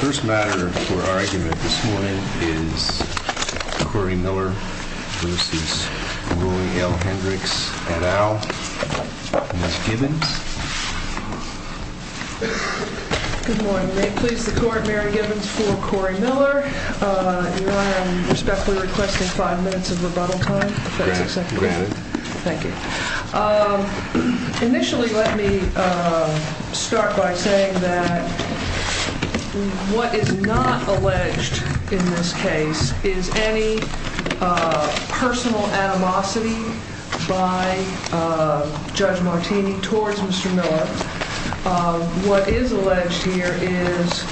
first matter for our argument this morning is Corey Miller v. Roy L. Hendricks et al. Good morning. May it please the Court, Mary Gibbons for Corey Miller. Your Honor, I respectfully request five minutes of rebuttal time if that's acceptable. Granted. Thank you. Initially, let me start by saying that what is not alleged in this case is any personal animosity by Judge Martini towards Mr. Miller. What is alleged here is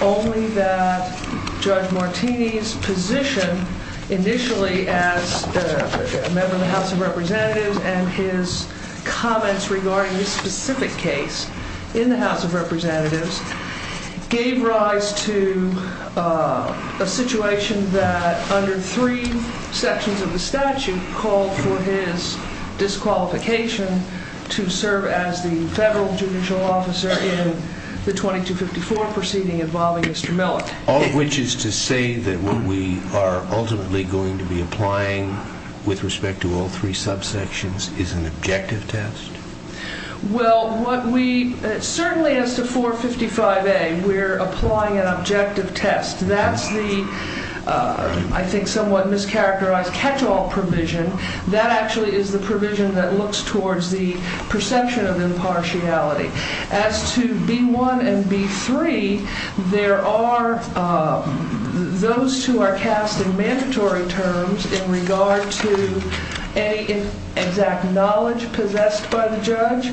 only that Judge Martini's position initially as a member of the House of Representatives and his comments regarding this specific case in the House of Representatives in the 2254 proceeding involving Mr. Miller. All of which is to say that what we are ultimately going to be applying with respect to all three subsections is an objective test? Well, certainly as to 455A, we're applying an objective test. That's the, I think, somewhat mischaracterized catch-all provision. That actually is the provision that looks towards the perception of impartiality. As to B1 and B3, there are, those two are casting mandatory terms in regard to any exact knowledge possessed by the judge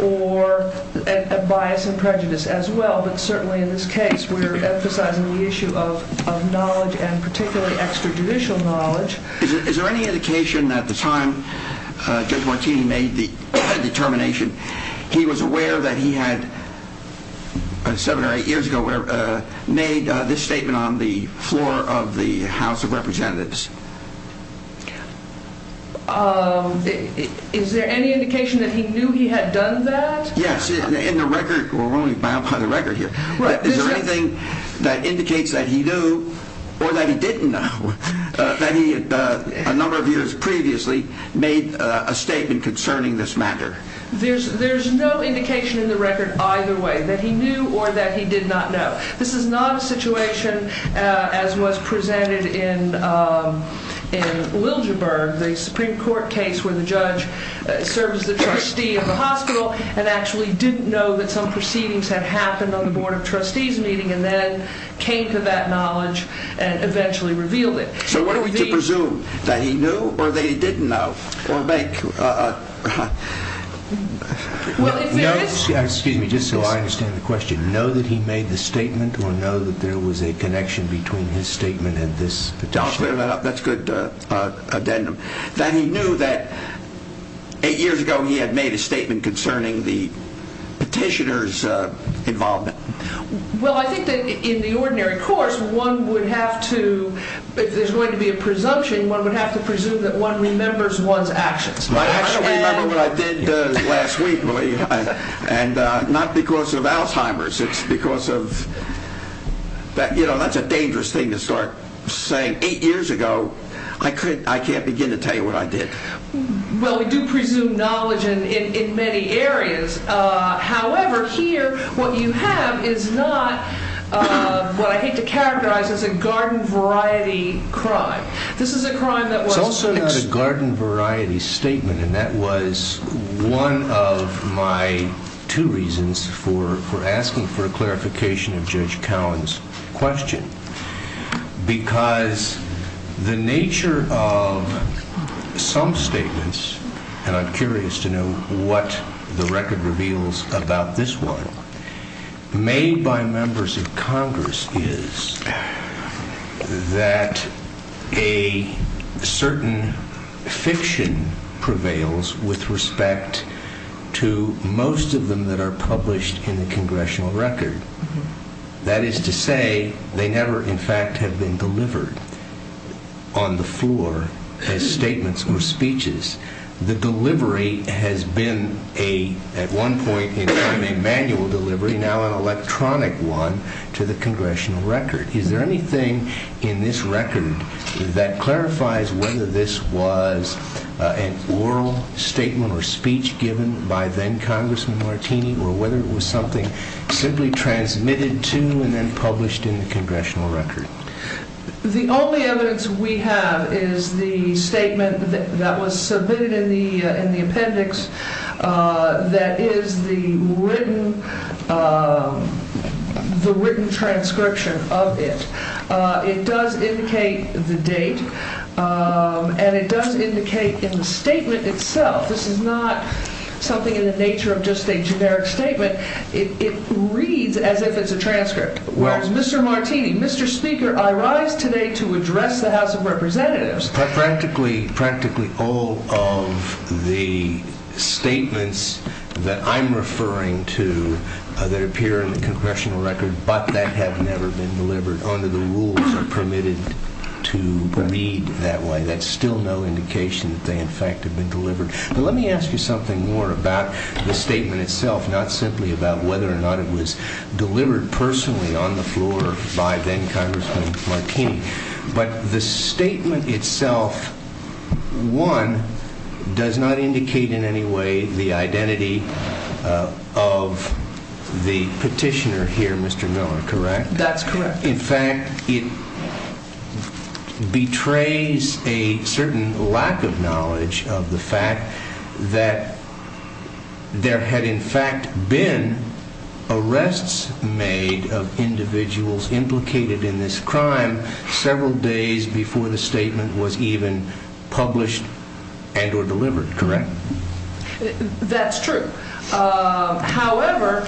or a bias and prejudice as well. But certainly in this case, we're emphasizing the issue of knowledge and particularly extrajudicial knowledge. Is there any indication at the time Judge Martini made the determination, he was aware that he had seven or eight years ago made this statement on the floor of the House of Representatives? Is there any indication that he knew he had done that? Yes, in the record, we're only bound by the record here. Is there anything that indicates that he knew or that he didn't know, that he, a number of years previously, made a statement concerning this matter? There's no indication in the record either way, that he knew or that he did not know. This is not a situation as was presented in Liljeburg, the Supreme Court case where the judge served as the trustee of the hospital and actually didn't know that some proceedings had happened on the Board of Trustees meeting and then came to that knowledge and eventually revealed it. So what are we to presume, that he knew or that he didn't know? Well, if there is... Excuse me, just so I understand the question. Know that he made the statement or know that there was a connection between his statement and this? That's a good addendum. That he knew that eight years ago he had made a statement concerning the petitioner's involvement. Well, I think that in the ordinary course, one would have to, if there's going to be a presumption, one would have to presume that one remembers one's actions. I don't remember what I did last week, really. And not because of Alzheimer's, it's because of... You know, that's a dangerous thing to start saying. Eight years ago, I can't begin to tell you what I did. Well, we do presume knowledge in many areas. However, here what you have is not what I hate to characterize as a garden variety crime. This is a crime that was... It's also not a garden variety statement. And that was one of my two reasons for asking for a clarification of Judge Cowan's question. Because the nature of some statements, and I'm curious to know what the record reveals about this one, made by members of Congress is that a certain fiction prevails with respect to most of them that are published in the congressional record. That is to say, they never in fact have been delivered on the floor as statements or speeches. The delivery has been at one point a manual delivery, now an electronic one to the congressional record. Is there anything in this record that clarifies whether this was an oral statement or speech given by then-Congressman Martini, or whether it was something simply transmitted to and then published in the congressional record? The only evidence we have is the statement that was submitted in the appendix that is the written transcription of it. It does indicate the date, and it does indicate in the statement itself. This is not something in the nature of just a generic statement. It reads as if it's a transcript. Mr. Martini, Mr. Speaker, I rise today to address the House of Representatives. Practically all of the statements that I'm referring to that appear in the congressional record but that have never been delivered under the rules are permitted to read that way. That's still no indication that they in fact have been delivered. But let me ask you something more about the statement itself, not simply about whether or not it was delivered personally on the floor by then-Congressman Martini. But the statement itself, one, does not indicate in any way the identity of the petitioner here, Mr. Miller, correct? That's correct. In fact, it betrays a certain lack of knowledge of the fact that there had in fact been arrests made of individuals implicated in this crime several days before the statement was even published and or delivered, correct? That's true. However,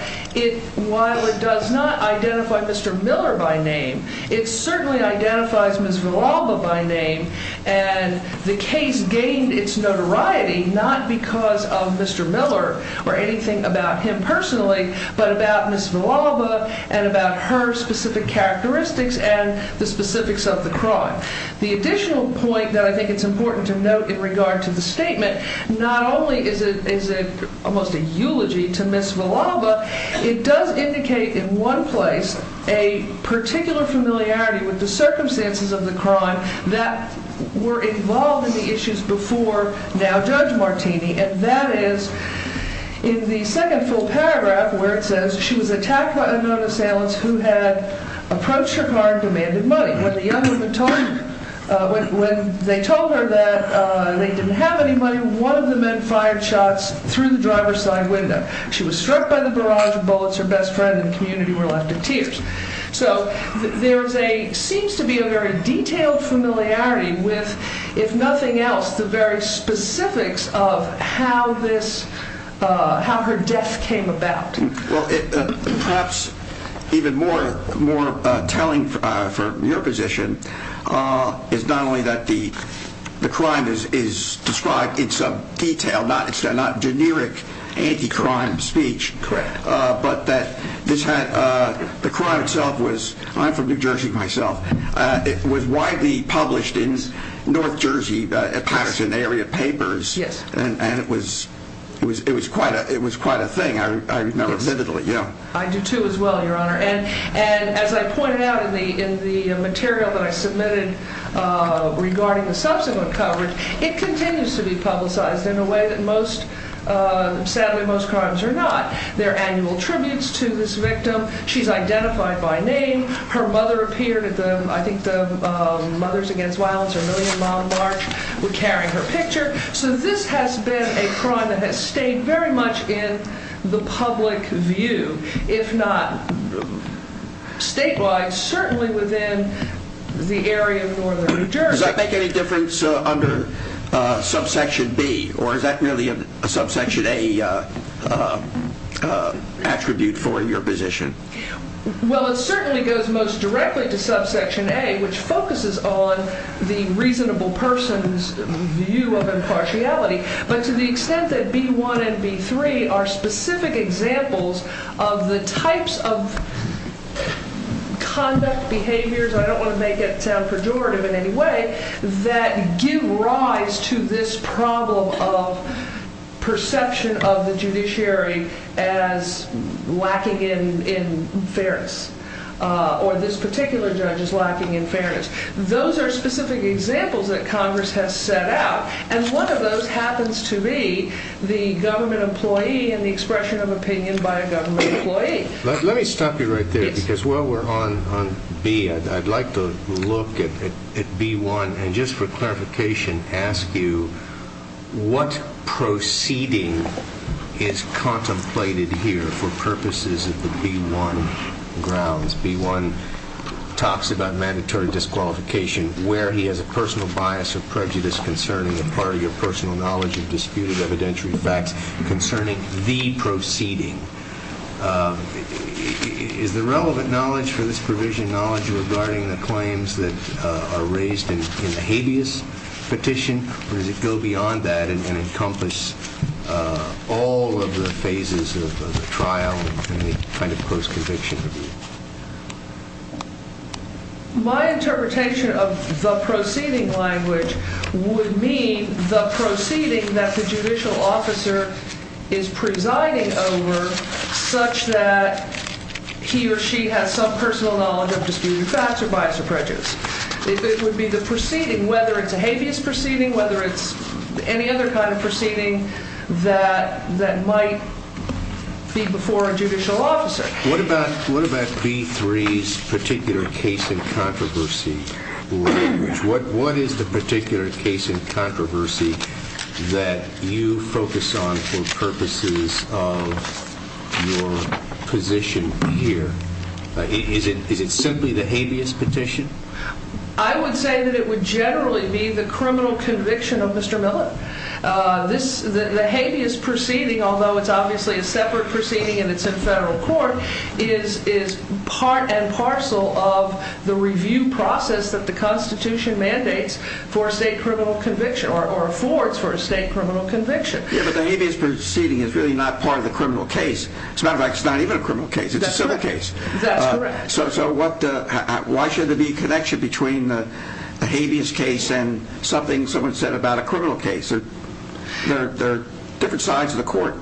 while it does not identify Mr. Miller by name, it certainly identifies Ms. Villalba by name, and the case gained its notoriety not because of Mr. Miller or anything about him personally, but about Ms. Villalba and about her specific characteristics and the specifics of the crime. The additional point that I think it's important to note in regard to the statement not only is it almost a eulogy to Ms. Villalba, it does indicate in one place a particular familiarity with the circumstances of the crime that were involved in the issues before now Judge Martini, and that is in the second full paragraph where it says she was attacked by unknown assailants who had approached her car and demanded money. When they told her that they didn't have any money, one of the men fired shots through the driver's side window. She was struck by the barrage of bullets. Her best friend and community were left in tears. So there seems to be a very detailed familiarity with, if nothing else, the very specifics of how her death came about. Perhaps even more telling from your position is not only that the crime is described in some detail, not generic anti-crime speech, but that the crime itself was, I'm from New Jersey myself, it was widely published in North Jersey Patterson area papers, and it was quite a thing. I do too as well, Your Honor. And as I pointed out in the material that I submitted regarding the subsequent coverage, it continues to be publicized in a way that sadly most crimes are not. There are annual tributes to this victim. She's identified by name. Her mother appeared, I think the Mothers Against Violence or Million Mile March would carry her picture. So this has been a crime that has stayed very much in the public view, if not statewide, certainly within the area of northern New Jersey. Does that make any difference under subsection B? Or is that merely a subsection A attribute for your position? Well, it certainly goes most directly to subsection A, which focuses on the reasonable person's view of impartiality. But to the extent that B1 and B3 are specific examples of the types of conduct, behaviors, I don't want to make it sound pejorative in any way, that give rise to this problem of perception of the judiciary as lacking in fairness, or this particular judge as lacking in fairness. Those are specific examples that Congress has set out, and one of those happens to be the government employee and the expression of opinion by a government employee. Let me stop you right there. Because while we're on B, I'd like to look at B1 and just for clarification ask you, what proceeding is contemplated here for purposes of the B1 grounds? B1 talks about mandatory disqualification where he has a personal bias or prejudice concerning a part of your personal knowledge of disputed evidentiary facts concerning the proceeding. Is the relevant knowledge for this provision knowledge regarding the claims that are raised in the habeas petition, or does it go beyond that and encompass all of the phases of the trial and any kind of post-conviction review? My interpretation of the proceeding language would mean the proceeding that the judicial officer is presiding over such that he or she has some personal knowledge of disputed facts or bias or prejudice. It would be the proceeding, whether it's a habeas proceeding, whether it's any other kind of proceeding that might be before a judicial officer. What about B3's particular case in controversy language? What is the particular case in controversy that you focus on for purposes of your position here? Is it simply the habeas petition? I would say that it would generally be the criminal conviction of Mr. Miller. The habeas proceeding, although it's obviously a separate proceeding and it's in federal court, is part and parcel of the review process that the Constitution mandates for a state criminal conviction or affords for a state criminal conviction. Yeah, but the habeas proceeding is really not part of the criminal case. As a matter of fact, it's not even a criminal case. It's a civil case. That's correct. So why should there be a connection between the habeas case and something someone said about a criminal case? They're different sides of the court.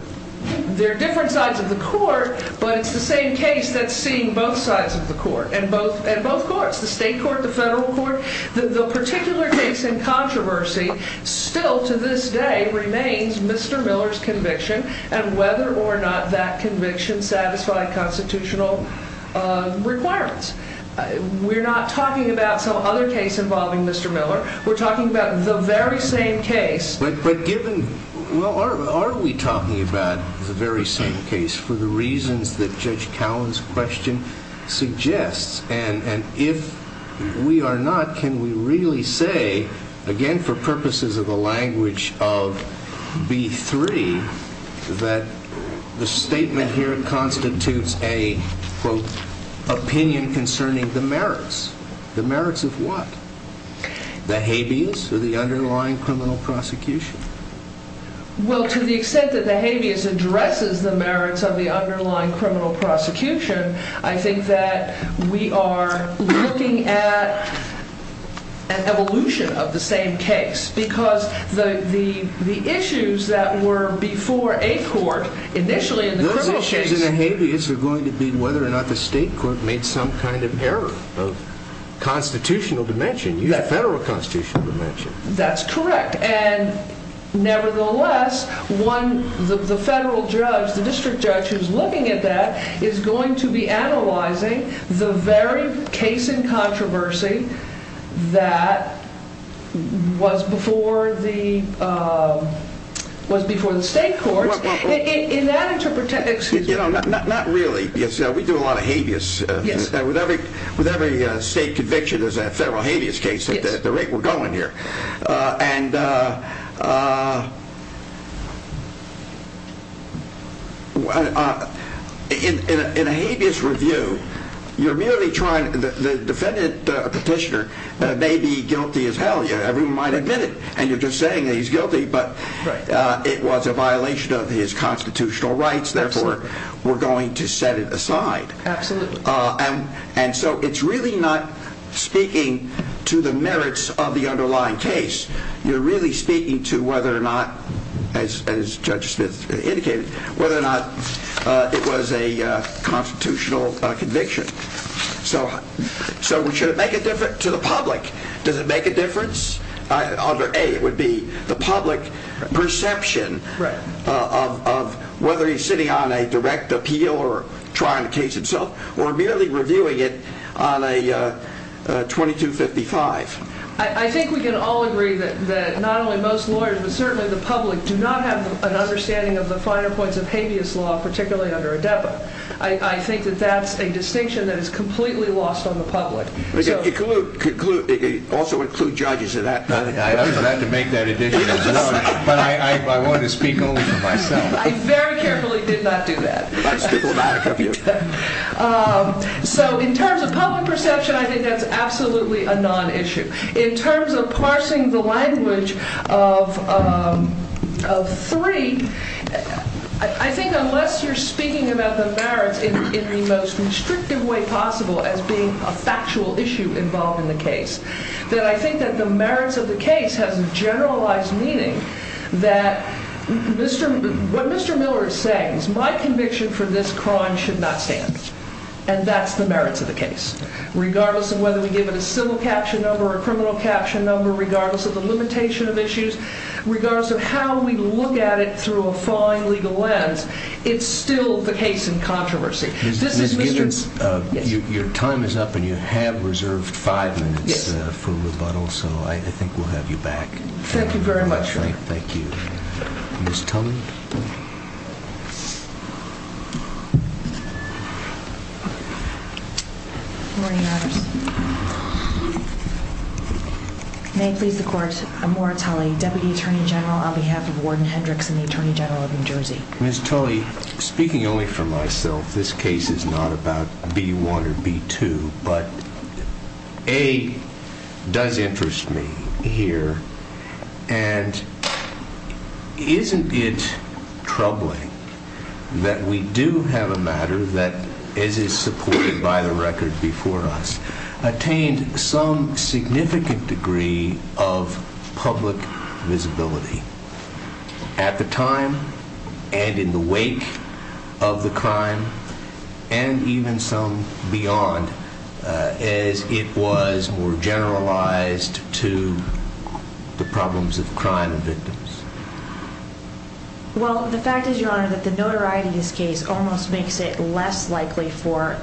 They're different sides of the court, but it's the same case that's seeing both sides of the court and both courts, the state court, the federal court. The particular case in controversy still to this day remains Mr. Miller's conviction and whether or not that conviction satisfied constitutional requirements. We're not talking about some other case involving Mr. Miller. We're talking about the very same case. Well, are we talking about the very same case for the reasons that Judge Cowen's question suggests? And if we are not, can we really say, again for purposes of the language of B3, that the statement here constitutes a, quote, opinion concerning the merits? The merits of what? The habeas or the underlying criminal prosecution? Well, to the extent that the habeas addresses the merits of the underlying criminal prosecution, I think that we are looking at an evolution of the same case because the issues that were before a court initially in the criminal case Those issues in the habeas are going to be whether or not the state court made some kind of error of constitutional dimension. You have federal constitutional dimension. That's correct. And nevertheless, the federal judge, the district judge who's looking at that is going to be analyzing the very case in controversy that was before the state court. In that interpretation, excuse me. Not really. We do a lot of habeas. Yes. With every state conviction, there's a federal habeas case. Yes. The rate we're going here. And in a habeas review, you're merely trying, the defendant petitioner may be guilty as hell. Everyone might admit it, and you're just saying that he's guilty, but it was a violation of his constitutional rights. Absolutely. Therefore, we're going to set it aside. Absolutely. And so it's really not speaking to the merits of the underlying case. You're really speaking to whether or not, as Judge Smith indicated, whether or not it was a constitutional conviction. So should it make a difference to the public? Does it make a difference? A, it would be the public perception of whether he's sitting on a direct appeal or trying the case himself, or merely reviewing it on a 2255. I think we can all agree that not only most lawyers, but certainly the public, do not have an understanding of the finer points of habeas law, particularly under ADEPA. I think that that's a distinction that is completely lost on the public. It could also include judges at that point. I'd have to make that addition as well, but I wanted to speak only for myself. I very carefully did not do that. That's diplomatic of you. So in terms of public perception, I think that's absolutely a non-issue. In terms of parsing the language of three, I think unless you're speaking about the merits in the most restrictive way possible as being a factual issue involved in the case, that I think that the merits of the case has a generalized meaning that what Mr. Miller is saying is my conviction for this crime should not stand, and that's the merits of the case. Regardless of whether we give it a civil caption number or a criminal caption number, regardless of the limitation of issues, regardless of how we look at it through a fine legal lens, it's still the case in controversy. Ms. Gibbons, your time is up and you have reserved five minutes for rebuttal, so I think we'll have you back. Thank you very much, Your Honor. Thank you. Ms. Tully. Good morning, Your Honors. May it please the Court, I'm Laura Tully, Deputy Attorney General, on behalf of Warden Hendrickson, the Attorney General of New Jersey. Ms. Tully, speaking only for myself, this case is not about B-1 or B-2, but A, does interest me here, and isn't it troubling that we do have a matter that, as is supported by the record before us, attained some significant degree of public visibility at the time and in the wake of the crime, and even some beyond, as it was more generalized to the problems of crime and victims? Well, the fact is, Your Honor, that the notoriety of this case almost makes it less likely for,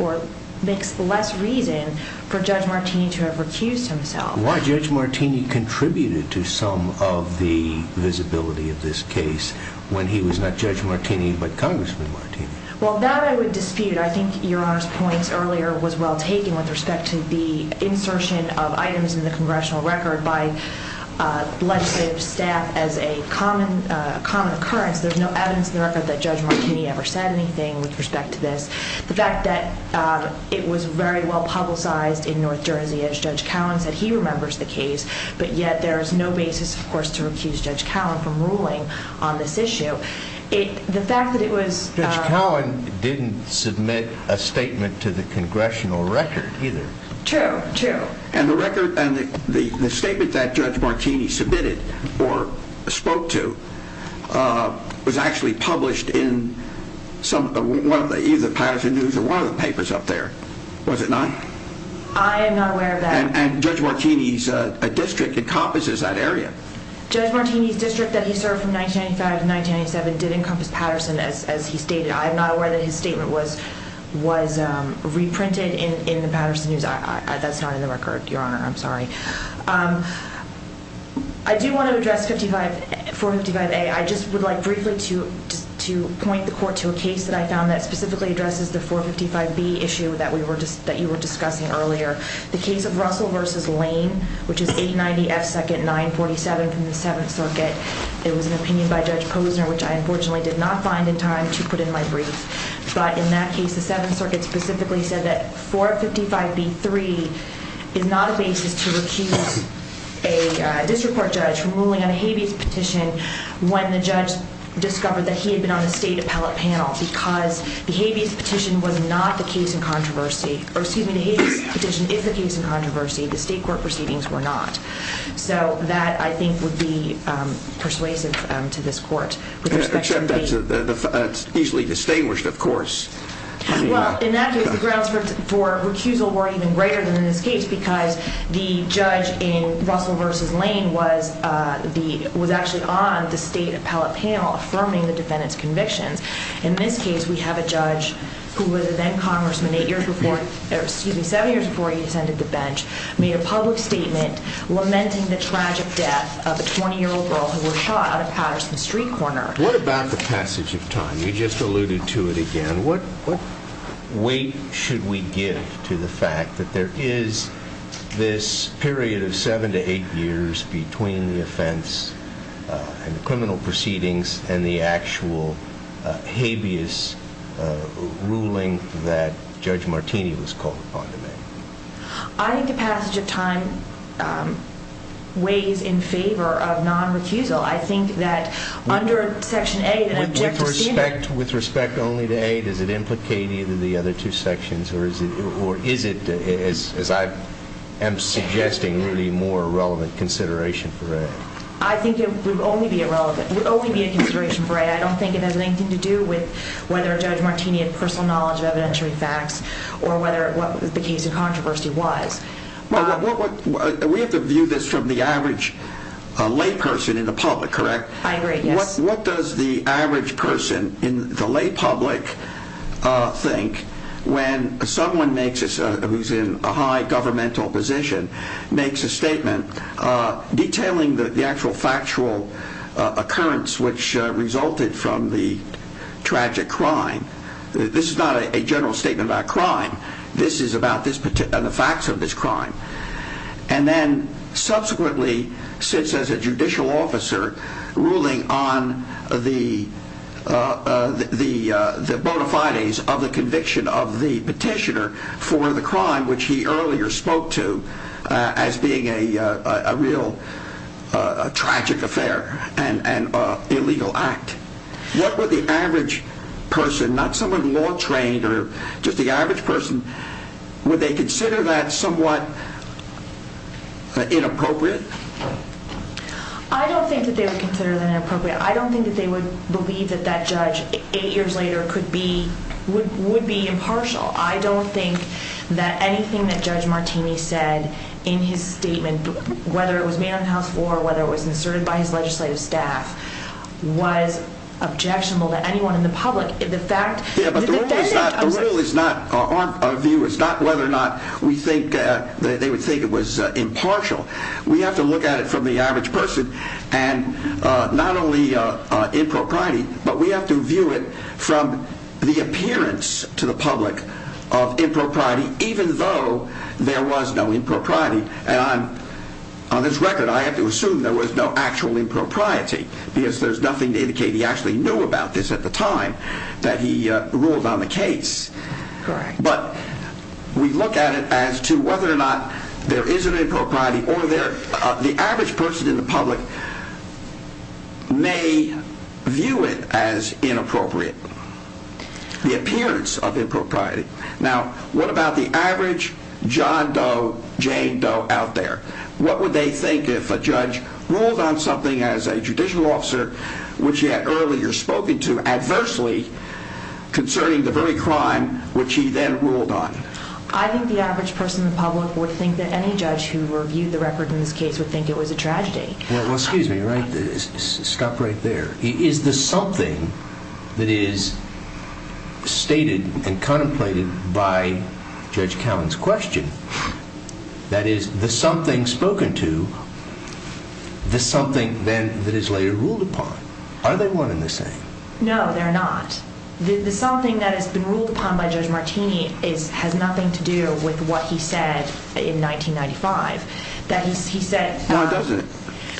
or makes less reason, for Judge Martini to have recused himself. Why Judge Martini contributed to some of the visibility of this case when he was not Judge Martini, but Congressman Martini? Well, that I would dispute. I think Your Honor's point earlier was well taken with respect to the insertion of items in the congressional record by legislative staff as a common occurrence. There's no evidence in the record that Judge Martini ever said anything with respect to this. The fact that it was very well publicized in North Jersey, as Judge Cowan said he remembers the case, but yet there is no basis, of course, to recuse Judge Cowan from ruling on this issue. The fact that it was... Judge Cowan didn't submit a statement to the congressional record either. True, true. And the statement that Judge Martini submitted or spoke to was actually published in either the Patterson News or one of the papers up there, was it not? I am not aware of that. And Judge Martini's district encompasses that area. Judge Martini's district that he served from 1995 to 1997 did encompass Patterson, as he stated. I am not aware that his statement was reprinted in the Patterson News. That's not in the record, Your Honor. I'm sorry. I do want to address 455A. I just would like briefly to point the court to a case that I found that specifically addresses the 455B issue that you were discussing earlier. The case of Russell v. Lane, which is 890 F. Second 947 from the Seventh Circuit. It was an opinion by Judge Posner, which I unfortunately did not find in time to put in my brief. But in that case, the Seventh Circuit specifically said that 455B.3 is not a basis to recuse a district court judge from ruling on a habeas petition when the judge discovered that he had been on the state appellate panel because the habeas petition was not the case in controversy. Or excuse me, the habeas petition is the case in controversy. The state court proceedings were not. So that, I think, would be persuasive to this court. Except that's easily distinguished, of course. Well, in that case, the grounds for recusal were even greater than in this case because the judge in Russell v. Lane was actually on the state appellate panel affirming the defendant's convictions. In this case, we have a judge who was a then-congressman seven years before he descended the bench, made a public statement lamenting the tragic death of a 20-year-old girl who was shot out of Patterson Street Corner. What about the passage of time? You just alluded to it again. What weight should we give to the fact that there is this period of seven to eight years between the offense and the criminal proceedings and the actual habeas ruling that Judge Martini was called upon to make? I think the passage of time weighs in favor of non-recusal. I think that under Section A, the objective standard. With respect only to A, does it implicate either of the other two sections or is it, as I am suggesting, really more relevant consideration for A? I think it would only be a consideration for A. I don't think it has anything to do with whether Judge Martini had personal knowledge of evidentiary facts or what the case of controversy was. We have to view this from the average lay person in the public, correct? I agree, yes. What does the average person in the lay public think when someone who is in a high governmental position makes a statement detailing the actual factual occurrence which resulted from the tragic crime? This is not a general statement about crime. This is about the facts of this crime. And then subsequently sits as a judicial officer ruling on the bona fides of the conviction of the petitioner for the crime which he earlier spoke to as being a real tragic affair and illegal act. What would the average person, not someone law trained, or just the average person, would they consider that somewhat inappropriate? I don't think that they would consider that inappropriate. I don't think that they would believe that that judge eight years later would be impartial. I don't think that anything that Judge Martini said in his statement, whether it was made on the House floor or whether it was inserted by his legislative staff, was objectionable to anyone in the public. Our view is not whether or not they would think it was impartial. We have to look at it from the average person and not only in propriety, but we have to view it from the appearance to the public of in propriety even though there was no in propriety. And on this record I have to assume there was no actual in propriety because there's nothing to indicate he actually knew about this at the time that he ruled on the case. But we look at it as to whether or not there is an in propriety or the average person in the public may view it as inappropriate. The appearance of in propriety. Now what about the average John Doe, Jane Doe out there? What would they think if a judge ruled on something as a judicial officer which he had earlier spoken to adversely concerning the very crime which he then ruled on? I think the average person in the public would think that any judge who reviewed the record in this case would think it was a tragedy. Well, excuse me, stop right there. Is the something that is stated and contemplated by Judge Cowen's question, that is the something spoken to, the something then that is later ruled upon, are they one and the same? No, they're not. The something that has been ruled upon by Judge Martini has nothing to do with what he said in 1995. Why doesn't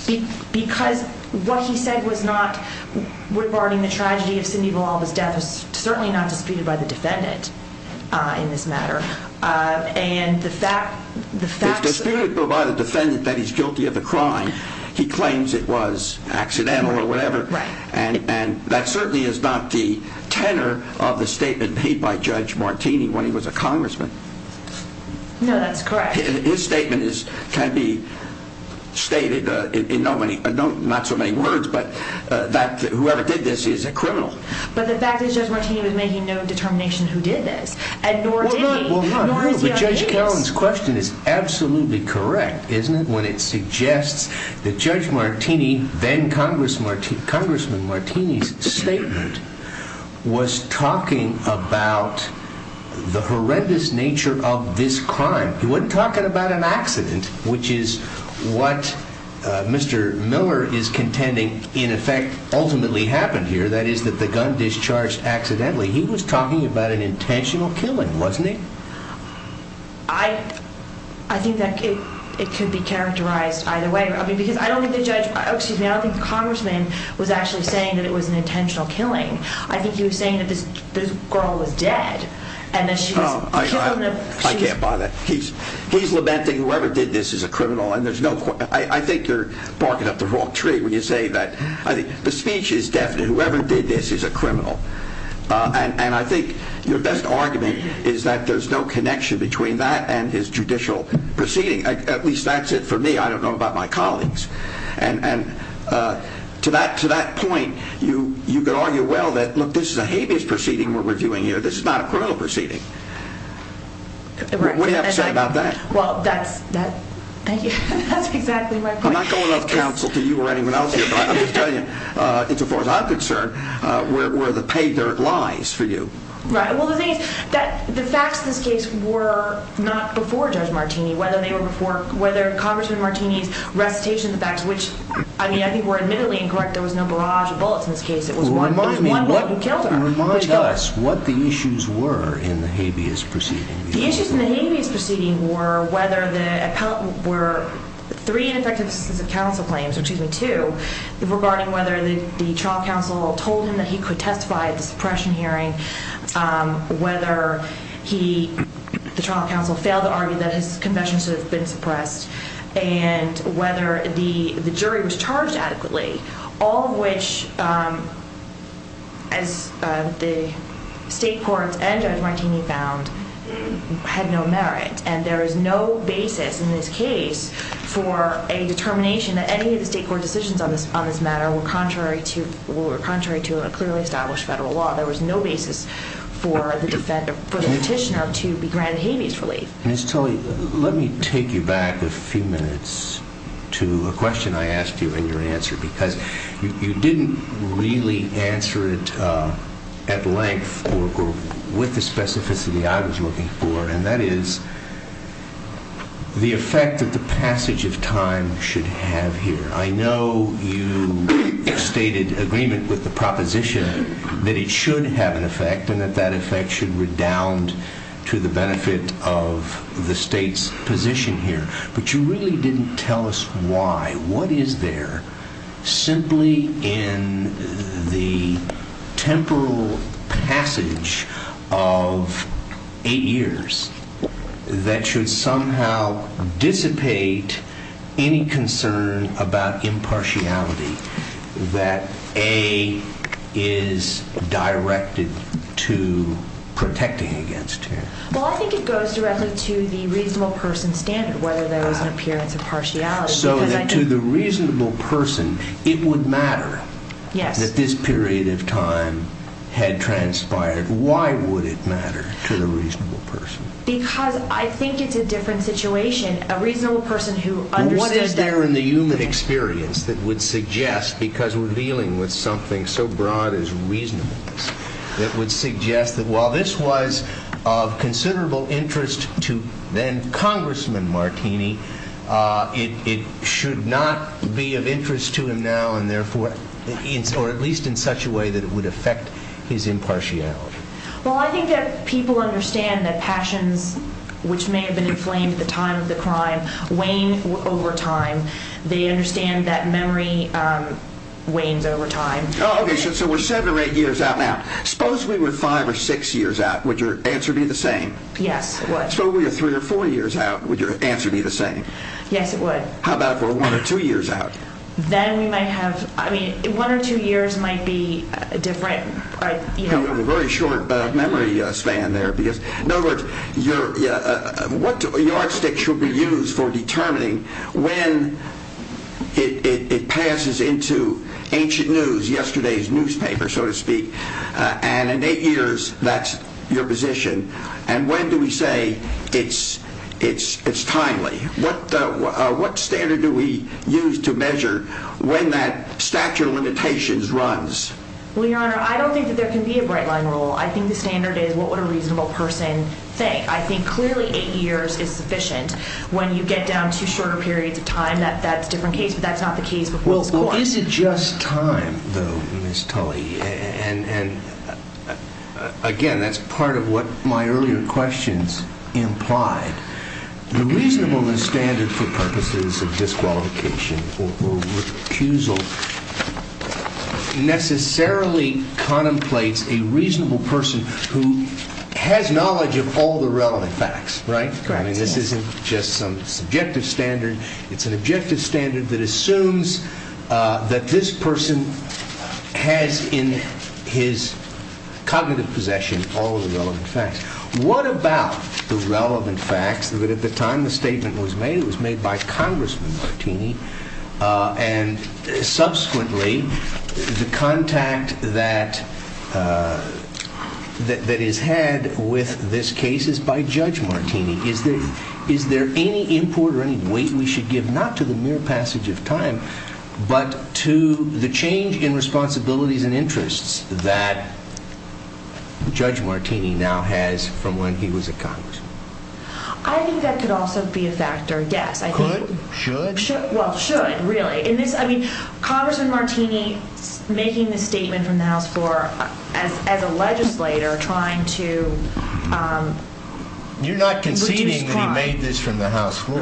it? Because what he said was not regarding the tragedy of Cindy Villalba's death was certainly not disputed by the defendant in this matter. If disputed by the defendant that he's guilty of a crime, he claims it was accidental or whatever, and that certainly is not the tenor of the statement made by Judge Martini when he was a congressman. No, that's correct. His statement can be stated in not so many words, but that whoever did this is a criminal. But the fact is Judge Martini was making no determination who did this, and nor did he, nor is your case. But Judge Cowen's question is absolutely correct, isn't it, when it suggests that Judge Martini, then Congressman Martini's statement, was talking about the horrendous nature of this crime. He wasn't talking about an accident, which is what Mr. Miller is contending in effect ultimately happened here, that is that the gun discharged accidentally. He was talking about an intentional killing, wasn't he? I think that it could be characterized either way, because I don't think the congressman was actually saying that it was an intentional killing. I think he was saying that this girl was dead. I can't buy that. He's lamenting whoever did this is a criminal. I think you're barking up the wrong tree when you say that. The speech is definite. Whoever did this is a criminal. I think your best argument is that there's no connection between that and his judicial proceeding. At least that's it for me. I don't know about my colleagues. To that point, you could argue well that, look, this is a habeas proceeding we're reviewing here. This is not a criminal proceeding. What do you have to say about that? Well, that's exactly my point. I'm not going off-counsel to you or anyone else here, as far as I'm concerned, where the paydirt lies for you. Right. Well, the thing is that the facts in this case were not before Judge Martini, whether they were before Congressman Martini's recitation of the facts, which I think were admittedly incorrect. There was no barrage of bullets in this case. It was one bullet that killed her. Remind us what the issues were in the habeas proceeding. The issues in the habeas proceeding were whether there were three ineffective assistance of counsel claims, or excuse me, two, regarding whether the trial counsel told him that he could testify at the suppression hearing, whether the trial counsel failed to argue that his confession should have been suppressed, and whether the jury was charged adequately, all of which, as the state courts and Judge Martini found, had no merit. And there is no basis in this case for a determination that any of the state court decisions on this matter were contrary to a clearly established federal law. There was no basis for the petitioner to be granted habeas relief. Ms. Tully, let me take you back a few minutes to a question I asked you in your answer, because you didn't really answer it at length or with the specificity I was looking for, and that is the effect that the passage of time should have here. I know you stated agreement with the proposition that it should have an effect and that that effect should redound to the benefit of the state's position here, but you really didn't tell us why. What is there simply in the temporal passage of eight years that should somehow dissipate any concern about impartiality that, A, is directed to protecting against here? Well, I think it goes directly to the reasonable person standard, whether there is an appearance of partiality. So to the reasonable person, it would matter that this period of time had transpired. Why would it matter to the reasonable person? Because I think it's a different situation. A reasonable person who understood that... What is there in the human experience that would suggest, because we're dealing with something so broad as reasonableness, that would suggest that while this was of considerable interest to then Congressman Martini, it should not be of interest to him now, or at least in such a way that it would affect his impartiality? Well, I think that people understand that passions, which may have been inflamed at the time of the crime, wane over time. They understand that memory wanes over time. Okay, so we're seven or eight years out now. Suppose we were five or six years out. Would your answer be the same? Yes, it would. Suppose we were three or four years out. Would your answer be the same? Yes, it would. How about if we're one or two years out? Then we might have... I mean, one or two years might be different. We have a very short memory span there. In other words, what yardstick should we use for determining when it passes into ancient news, yesterday's newspaper, so to speak, and in eight years, that's your position, and when do we say it's timely? What standard do we use to measure when that statute of limitations runs? Well, Your Honor, I don't think that there can be a bright-line rule. I think the standard is what would a reasonable person think. I think clearly eight years is sufficient. When you get down to shorter periods of time, that's a different case, but that's not the case before this Court. Well, is it just time, though, Ms. Tully? And, again, that's part of what my earlier questions implied. The reasonableness standard for purposes of disqualification or recusal necessarily contemplates a reasonable person who has knowledge of all the relevant facts, right? Correct. I mean, this isn't just some subjective standard. It's an objective standard that assumes that this person has in his cognitive possession all of the relevant facts. What about the relevant facts that at the time the statement was made, it was made by Congressman Martini, and subsequently, the contact that is had with this case is by Judge Martini. Is there any import or any weight we should give not to the mere passage of time but to the change in responsibilities and interests that Judge Martini now has from when he was a Congressman? I think that could also be a factor, yes. Could? Should? Well, should, really. Congressman Martini making the statement from the House floor as a legislator trying to You're not conceding that he made this from the House floor.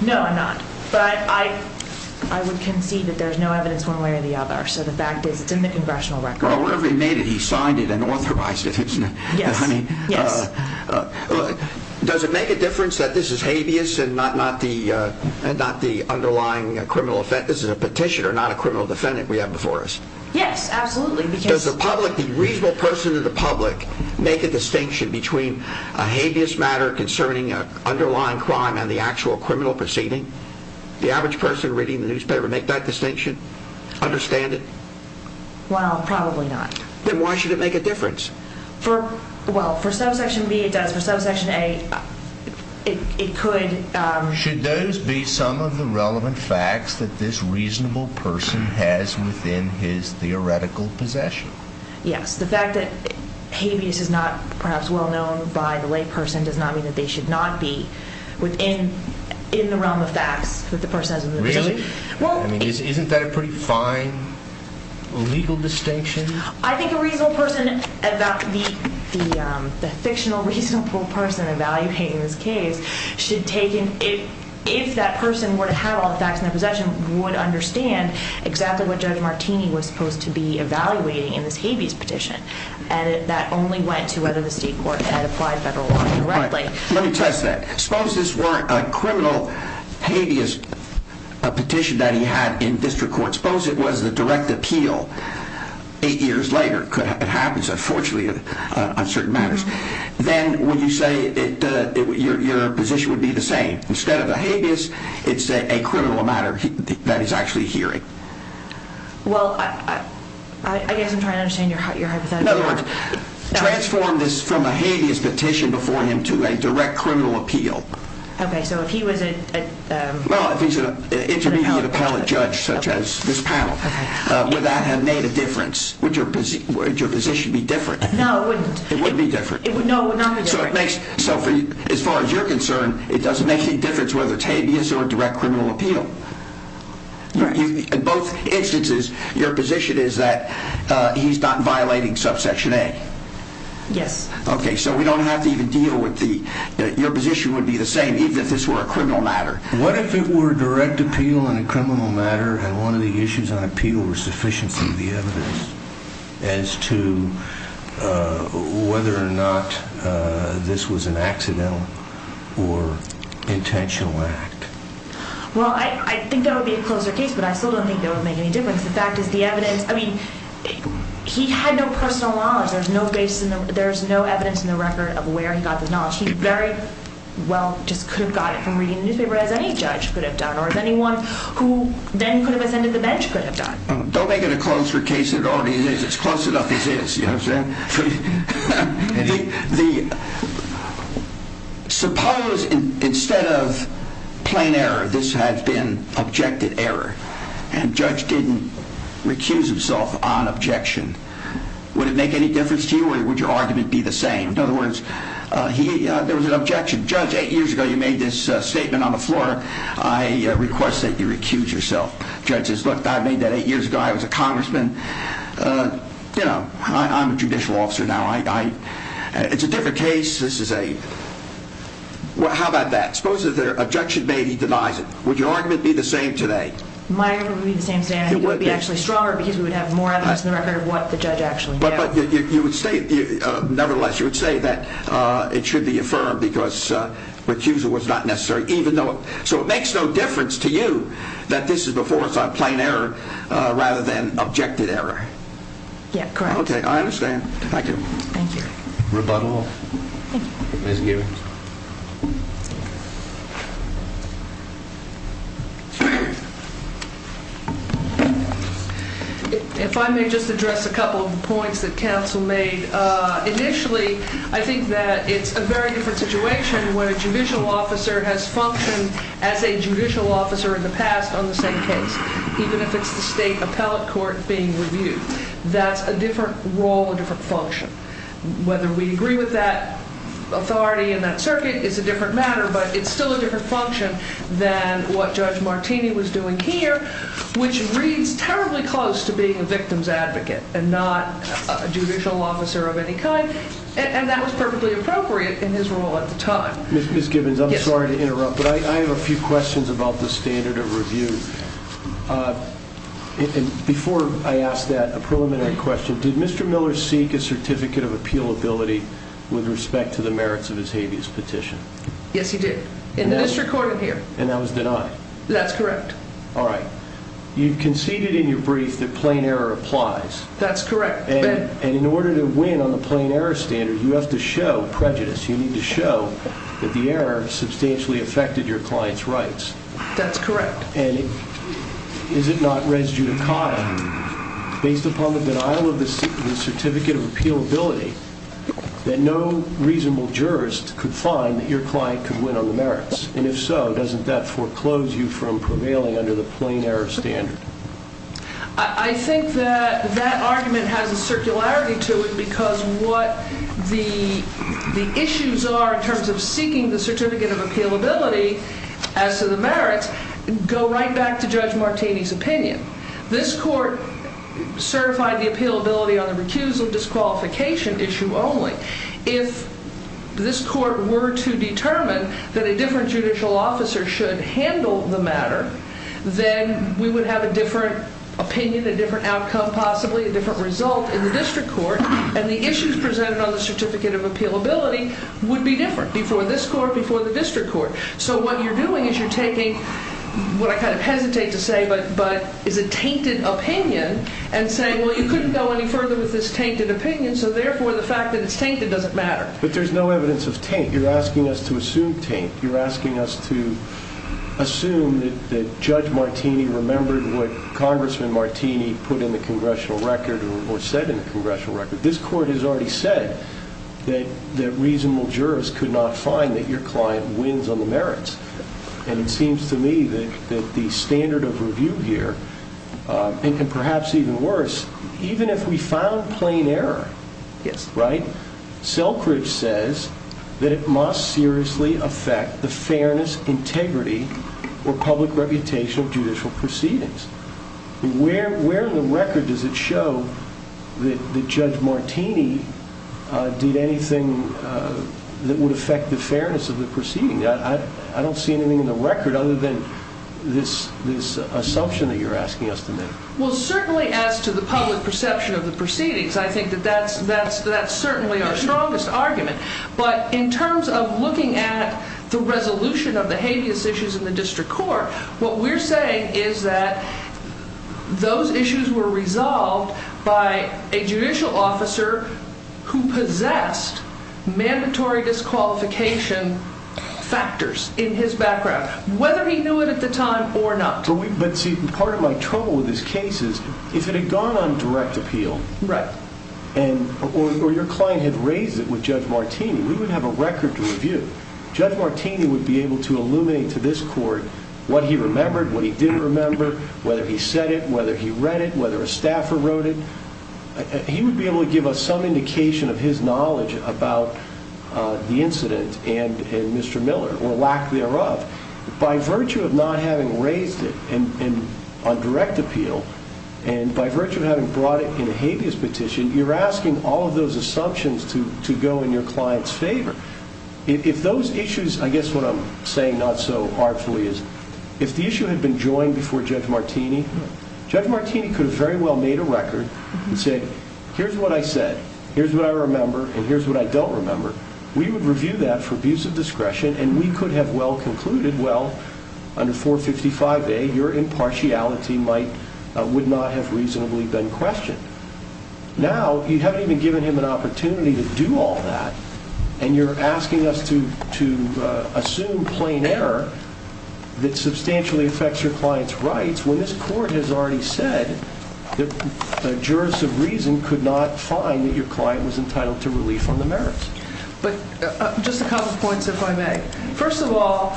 No, I'm not. But I would concede that there's no evidence one way or the other. So the fact is it's in the congressional record. Well, whenever he made it, he signed it and authorized it, isn't it? Yes. Does it make a difference that this is habeas and not the underlying criminal offense? This is a petitioner, not a criminal defendant we have before us. Yes, absolutely. Does the reasonable person in the public make a distinction between a habeas matter concerning an underlying crime and the actual criminal proceeding? The average person reading the newspaper make that distinction? Understand it? Well, probably not. Then why should it make a difference? Well, for subsection B, it does. For subsection A, it could. Should those be some of the relevant facts that this reasonable person has within his theoretical possession? Yes. The fact that habeas is not perhaps well known by the layperson does not mean that they should not be within the realm of facts that the person has within the position. Really? Isn't that a pretty fine legal distinction? I think a reasonable person, the fictional reasonable person evaluating this case, if that person were to have all the facts in their possession, would understand exactly what Judge Martini was supposed to be evaluating in this habeas petition. That only went to whether the state court had applied federal law correctly. Let me test that. Suppose this were a criminal habeas petition that he had in district court. Suppose it was the direct appeal eight years later. It happens, unfortunately, on certain matters. Then would you say your position would be the same? Instead of a habeas, it's a criminal matter that he's actually hearing. Well, I guess I'm trying to understand your hypothetical. In other words, transform this from a habeas petition before him to a direct criminal appeal. Okay, so if he was a... Well, if he's an intermediate appellate judge such as this panel, would that have made a difference? Would your position be different? No, it wouldn't. It wouldn't be different? No, it would not be different. So as far as you're concerned, it doesn't make any difference whether it's habeas or a direct criminal appeal? In both instances, your position is that he's not violating subsection A? Yes. Okay, so we don't have to even deal with the... What if it were direct appeal in a criminal matter and one of the issues on appeal were sufficiency of the evidence as to whether or not this was an accidental or intentional act? Well, I think that would be a closer case, but I still don't think that would make any difference. The fact is the evidence... I mean, he had no personal knowledge. There's no evidence in the record of where he got this knowledge. He very well just could have got it from reading the newspaper, as any judge could have done, or as anyone who then could have ascended the bench could have done. Don't make it a closer case than it already is. It's close enough as is, you know what I'm saying? Suppose instead of plain error, this had been objected error, and judge didn't recuse himself on objection. Would it make any difference to you, or would your argument be the same? In other words, there was an objection. Judge, eight years ago you made this statement on the floor. I request that you recuse yourself. Judge says, look, I made that eight years ago. I was a congressman. You know, I'm a judicial officer now. It's a different case. This is a... Well, how about that? Suppose there's an objection made, he denies it. Would your argument be the same today? My argument would be the same today, and it would be actually stronger because we would have more evidence in the record of what the judge actually did. But nevertheless, you would say that it should be affirmed because recusal was not necessary. So it makes no difference to you that this is before plain error rather than objected error. Yeah, correct. Okay, I understand. Thank you. Thank you. Rebuttal. Ms. Gibbons. If I may just address a couple of points that counsel made. Initially, I think that it's a very different situation when a judicial officer has functioned as a judicial officer in the past on the same case, even if it's the state appellate court being reviewed. That's a different role, a different function. whether we disagree with that authority, it's a different matter, but it's still a different function than what Judge Martini was doing here, which reads terribly close to being a victim's advocate and not a judicial officer of any kind, and that was perfectly appropriate in his role at the time. Ms. Gibbons, I'm sorry to interrupt, but I have a few questions about the standard of review. Before I ask that, a preliminary question. Did Mr. Miller seek a certificate of appealability with respect to the merits of his habeas petition? Yes, he did in this recording here. And that was denied? That's correct. All right. You conceded in your brief that plain error applies. That's correct. And in order to win on the plain error standard, you have to show prejudice. You need to show that the error substantially affected your client's rights. That's correct. And is it not res judicata? Based upon the denial of the certificate of appealability, that no reasonable jurist could find that your client could win on the merits, and if so, doesn't that foreclose you from prevailing under the plain error standard? I think that that argument has a circularity to it because what the issues are in terms of seeking the certificate of appealability as to the merits go right back to Judge Martini's opinion. This court certified the appealability on the recusal disqualification issue only. If this court were to determine that a different judicial officer should handle the matter, then we would have a different opinion, a different outcome, possibly a different result in the district court, and the issues presented on the certificate of appealability would be different before this court, before the district court. So what you're doing is you're taking what I kind of hesitate to say, but is a tainted opinion and saying, well, you couldn't go any further with this tainted opinion, so therefore the fact that it's tainted doesn't matter. But there's no evidence of taint. You're asking us to assume taint. You're asking us to assume that Judge Martini remembered what Congressman Martini put in the congressional record or said in the congressional record. This court has already said that reasonable jurists could not find that your client wins on the merits, and it seems to me that the standard of review here, and perhaps even worse, even if we found plain error, right, Selkridge says that it must seriously affect the fairness, integrity, or public reputation of judicial proceedings. Where in the record does it show that Judge Martini did anything that would affect the fairness of the proceedings? I don't see anything in the record other than this assumption that you're asking us to make. Well, certainly as to the public perception of the proceedings, I think that that's certainly our strongest argument. But in terms of looking at the resolution of the habeas issues in the district court, what we're saying is that those issues were resolved by a judicial officer who possessed mandatory disqualification factors in his background, whether he knew it at the time or not. But see, part of my trouble with this case is if it had gone on direct appeal, or your client had raised it with Judge Martini, we would have a record to review. Judge Martini would be able to illuminate to this court what he remembered, what he didn't remember, whether he said it, whether he read it, whether a staffer wrote it. He would be able to give us some indication of his knowledge about the incident and Mr. Miller, or lack thereof. By virtue of not having raised it on direct appeal, and by virtue of having brought it in a habeas petition, you're asking all of those assumptions to go in your client's favor. If those issues, I guess what I'm saying not so artfully is, if the issue had been joined before Judge Martini, Judge Martini could have very well made a record and said, here's what I said, here's what I remember, and here's what I don't remember. We would review that for abuse of discretion, and we could have well concluded, well, under 455A, your impartiality would not have reasonably been questioned. Now, you haven't even given him an opportunity to do all that, and you're asking us to assume plain error that substantially affects your client's rights when this court has already said that jurors of reason could not find that your client was entitled to relief on the merits. But just a couple of points, if I may. First of all,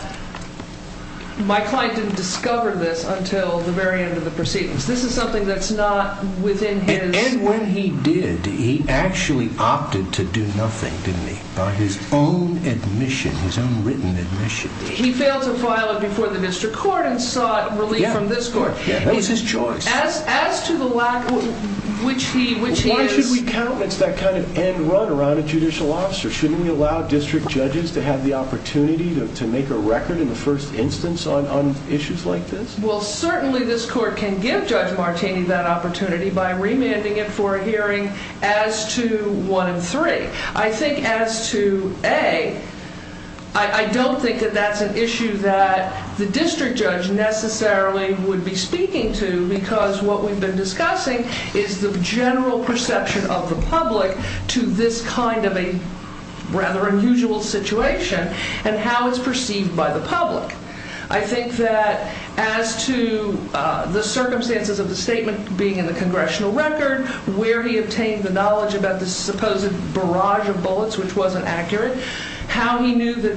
my client didn't discover this until the very end of the proceedings. This is something that's not within his— And when he did, he actually opted to do nothing, didn't he, by his own admission, his own written admission. He failed to file it before the district court and sought relief from this court. That was his choice. As to the lack, which he is— Why should we countenance that kind of end run around a judicial officer? Shouldn't we allow district judges to have the opportunity to make a record in the first instance on issues like this? Well, certainly this court can give Judge Martini that opportunity by remanding it for a hearing as to 1 and 3. I think as to A, I don't think that that's an issue that the district judge necessarily would be speaking to because what we've been discussing is the general perception of the public to this kind of a rather unusual situation and how it's perceived by the public. I think that as to the circumstances of the statement being in the congressional record, where he obtained the knowledge about the supposed barrage of bullets, which wasn't accurate, how he knew that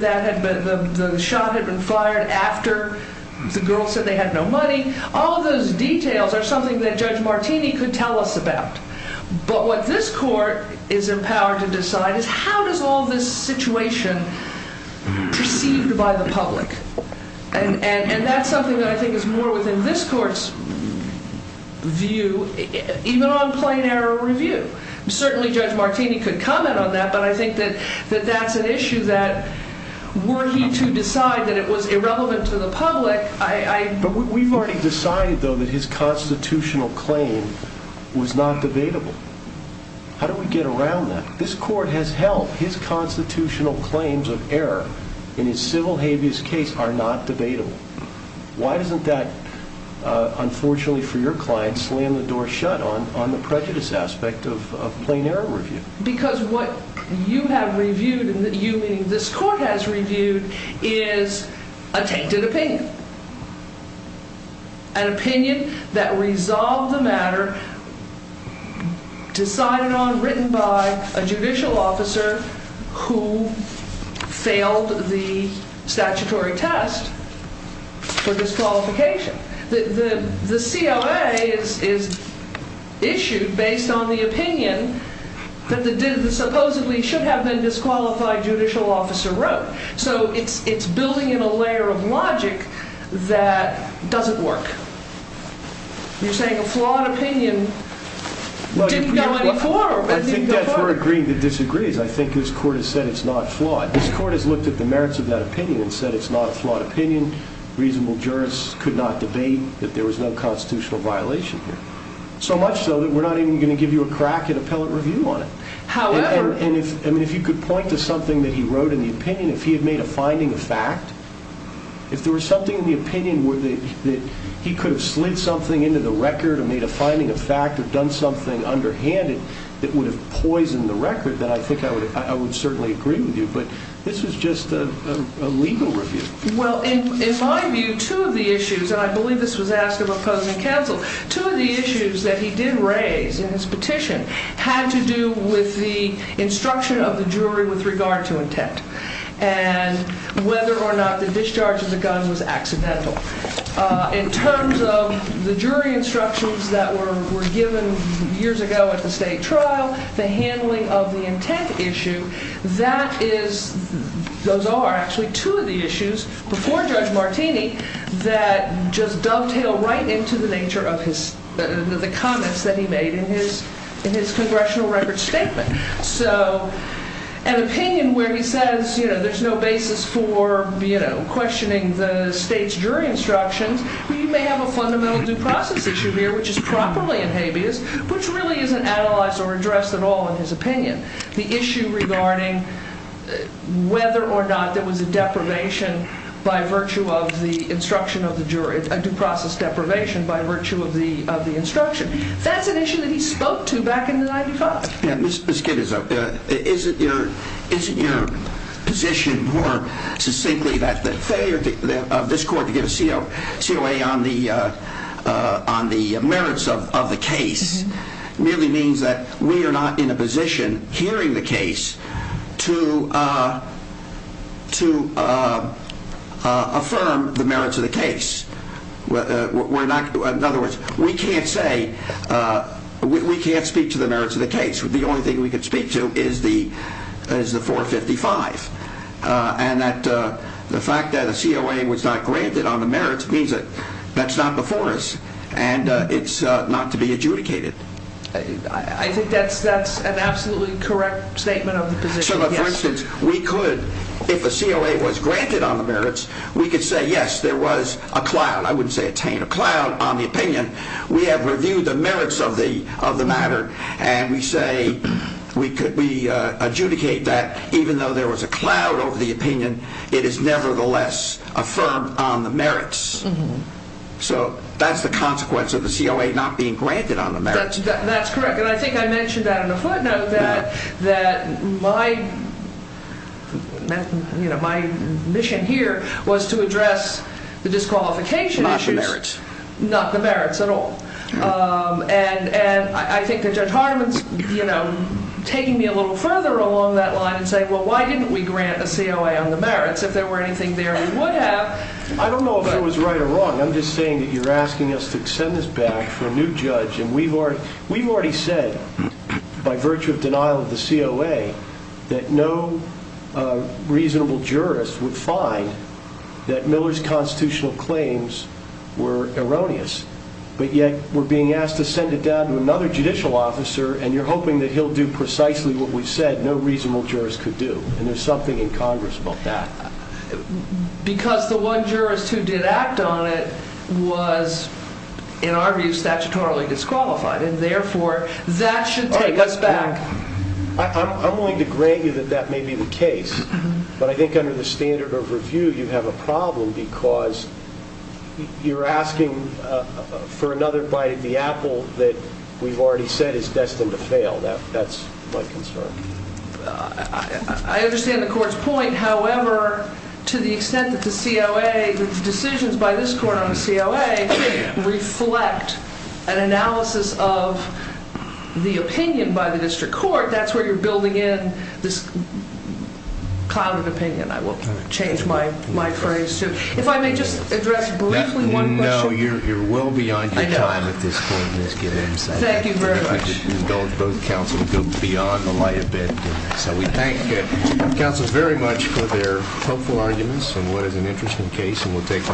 the shot had been fired after the girl said they had no money, all of those details are something that Judge Martini could tell us about. But what this court is empowered to decide is how does all this situation perceived by the public? And that's something that I think is more within this court's view, even on plain error review. Certainly Judge Martini could comment on that, but I think that that's an issue that were he to decide that it was irrelevant to the public, I... But we've already decided, though, that his constitutional claim was not debatable. How do we get around that? This court has held his constitutional claims of error in his civil habeas case are not debatable. Why doesn't that, unfortunately for your client, slam the door shut on the prejudice aspect of plain error review? Because what you have reviewed, you meaning this court has reviewed, is a tainted opinion. An opinion that resolved the matter, decided on, written by a judicial officer who failed the statutory test for disqualification. The COA is issued based on the opinion that supposedly should have been disqualified judicial officer wrote. So it's building in a layer of logic that doesn't work. You're saying a flawed opinion didn't go any further. I think that's where agreeing to disagree is. I think this court has said it's not flawed. This court has looked at the merits of that opinion and said it's not a flawed opinion. Reasonable jurists could not debate that there was no constitutional violation here. So much so that we're not even going to give you a crack at appellate review on it. However... And if you could point to something that he wrote in the opinion, if he had made a finding of fact, if there was something in the opinion that he could have slid something into the record or made a finding of fact or done something underhanded that would have poisoned the record, then I think I would certainly agree with you. But this is just a legal review. Well, in my view, two of the issues, and I believe this was asked of opposing counsel, two of the issues that he did raise in his petition had to do with the instruction of the jury with regard to intent and whether or not the discharge of the gun was accidental. In terms of the jury instructions that were given years ago at the state trial, the handling of the intent issue, those are actually two of the issues before Judge Martini that just dovetail right into the nature of the comments that he made in his congressional record statement. So an opinion where he says, you know, there's no basis for questioning the state's jury instructions, you may have a fundamental due process issue here, which is properly in habeas, which really isn't analyzed or addressed at all in his opinion. The issue regarding whether or not there was a deprivation by virtue of the instruction of the jury, a due process deprivation by virtue of the instruction, that's an issue that he spoke to back in 1995. Ms. Kidder, isn't your position more succinctly that the failure of this court to give a COA on the merits of the case merely means that we are not in a position, hearing the case, in other words, we can't speak to the merits of the case. The only thing we can speak to is the 455. And the fact that a COA was not granted on the merits means that that's not before us and it's not to be adjudicated. I think that's an absolutely correct statement of the position, yes. So, for instance, we could, if a COA was granted on the merits, we could say, yes, there was a cloud. I wouldn't say attained a cloud on the opinion. We have reviewed the merits of the matter and we say we adjudicate that even though there was a cloud over the opinion, it is nevertheless affirmed on the merits. So, that's the consequence of the COA not being granted on the merits. That's correct. And I think I mentioned that on the footnote that my mission here was to address the disqualification issues. Not the merits. Not the merits at all. And I think that Judge Hartman's taking me a little further along that line and saying, well, why didn't we grant a COA on the merits? If there were anything there we would have. I don't know if it was right or wrong. I'm just saying that you're asking us to send this back for a new judge We've already said, by virtue of denial of the COA, that no reasonable jurist would find that Miller's constitutional claims were erroneous. But yet, we're being asked to send it down to another judicial officer and you're hoping that he'll do precisely what we've said no reasonable jurist could do. And there's something in Congress about that. Because the one jurist who did act on it was, in our view, statutorily disqualified. And therefore, that should take us back. I'm willing to grant you that that may be the case. But I think under the standard of review you have a problem because you're asking for another bite of the apple that we've already said is destined to fail. That's my concern. I understand the court's point. However, to the extent that the COA, the decisions by this court on the COA, reflect an analysis of the opinion by the district court, that's where you're building in this cloud of opinion. I will change my phrase. If I may just address briefly one question. No, you're well beyond your time at this point, Ms. Giddens. Thank you very much. Both counsel go beyond the light of day. So we thank counsels very much for their hopeful arguments on what is an interesting case, and we'll take a break.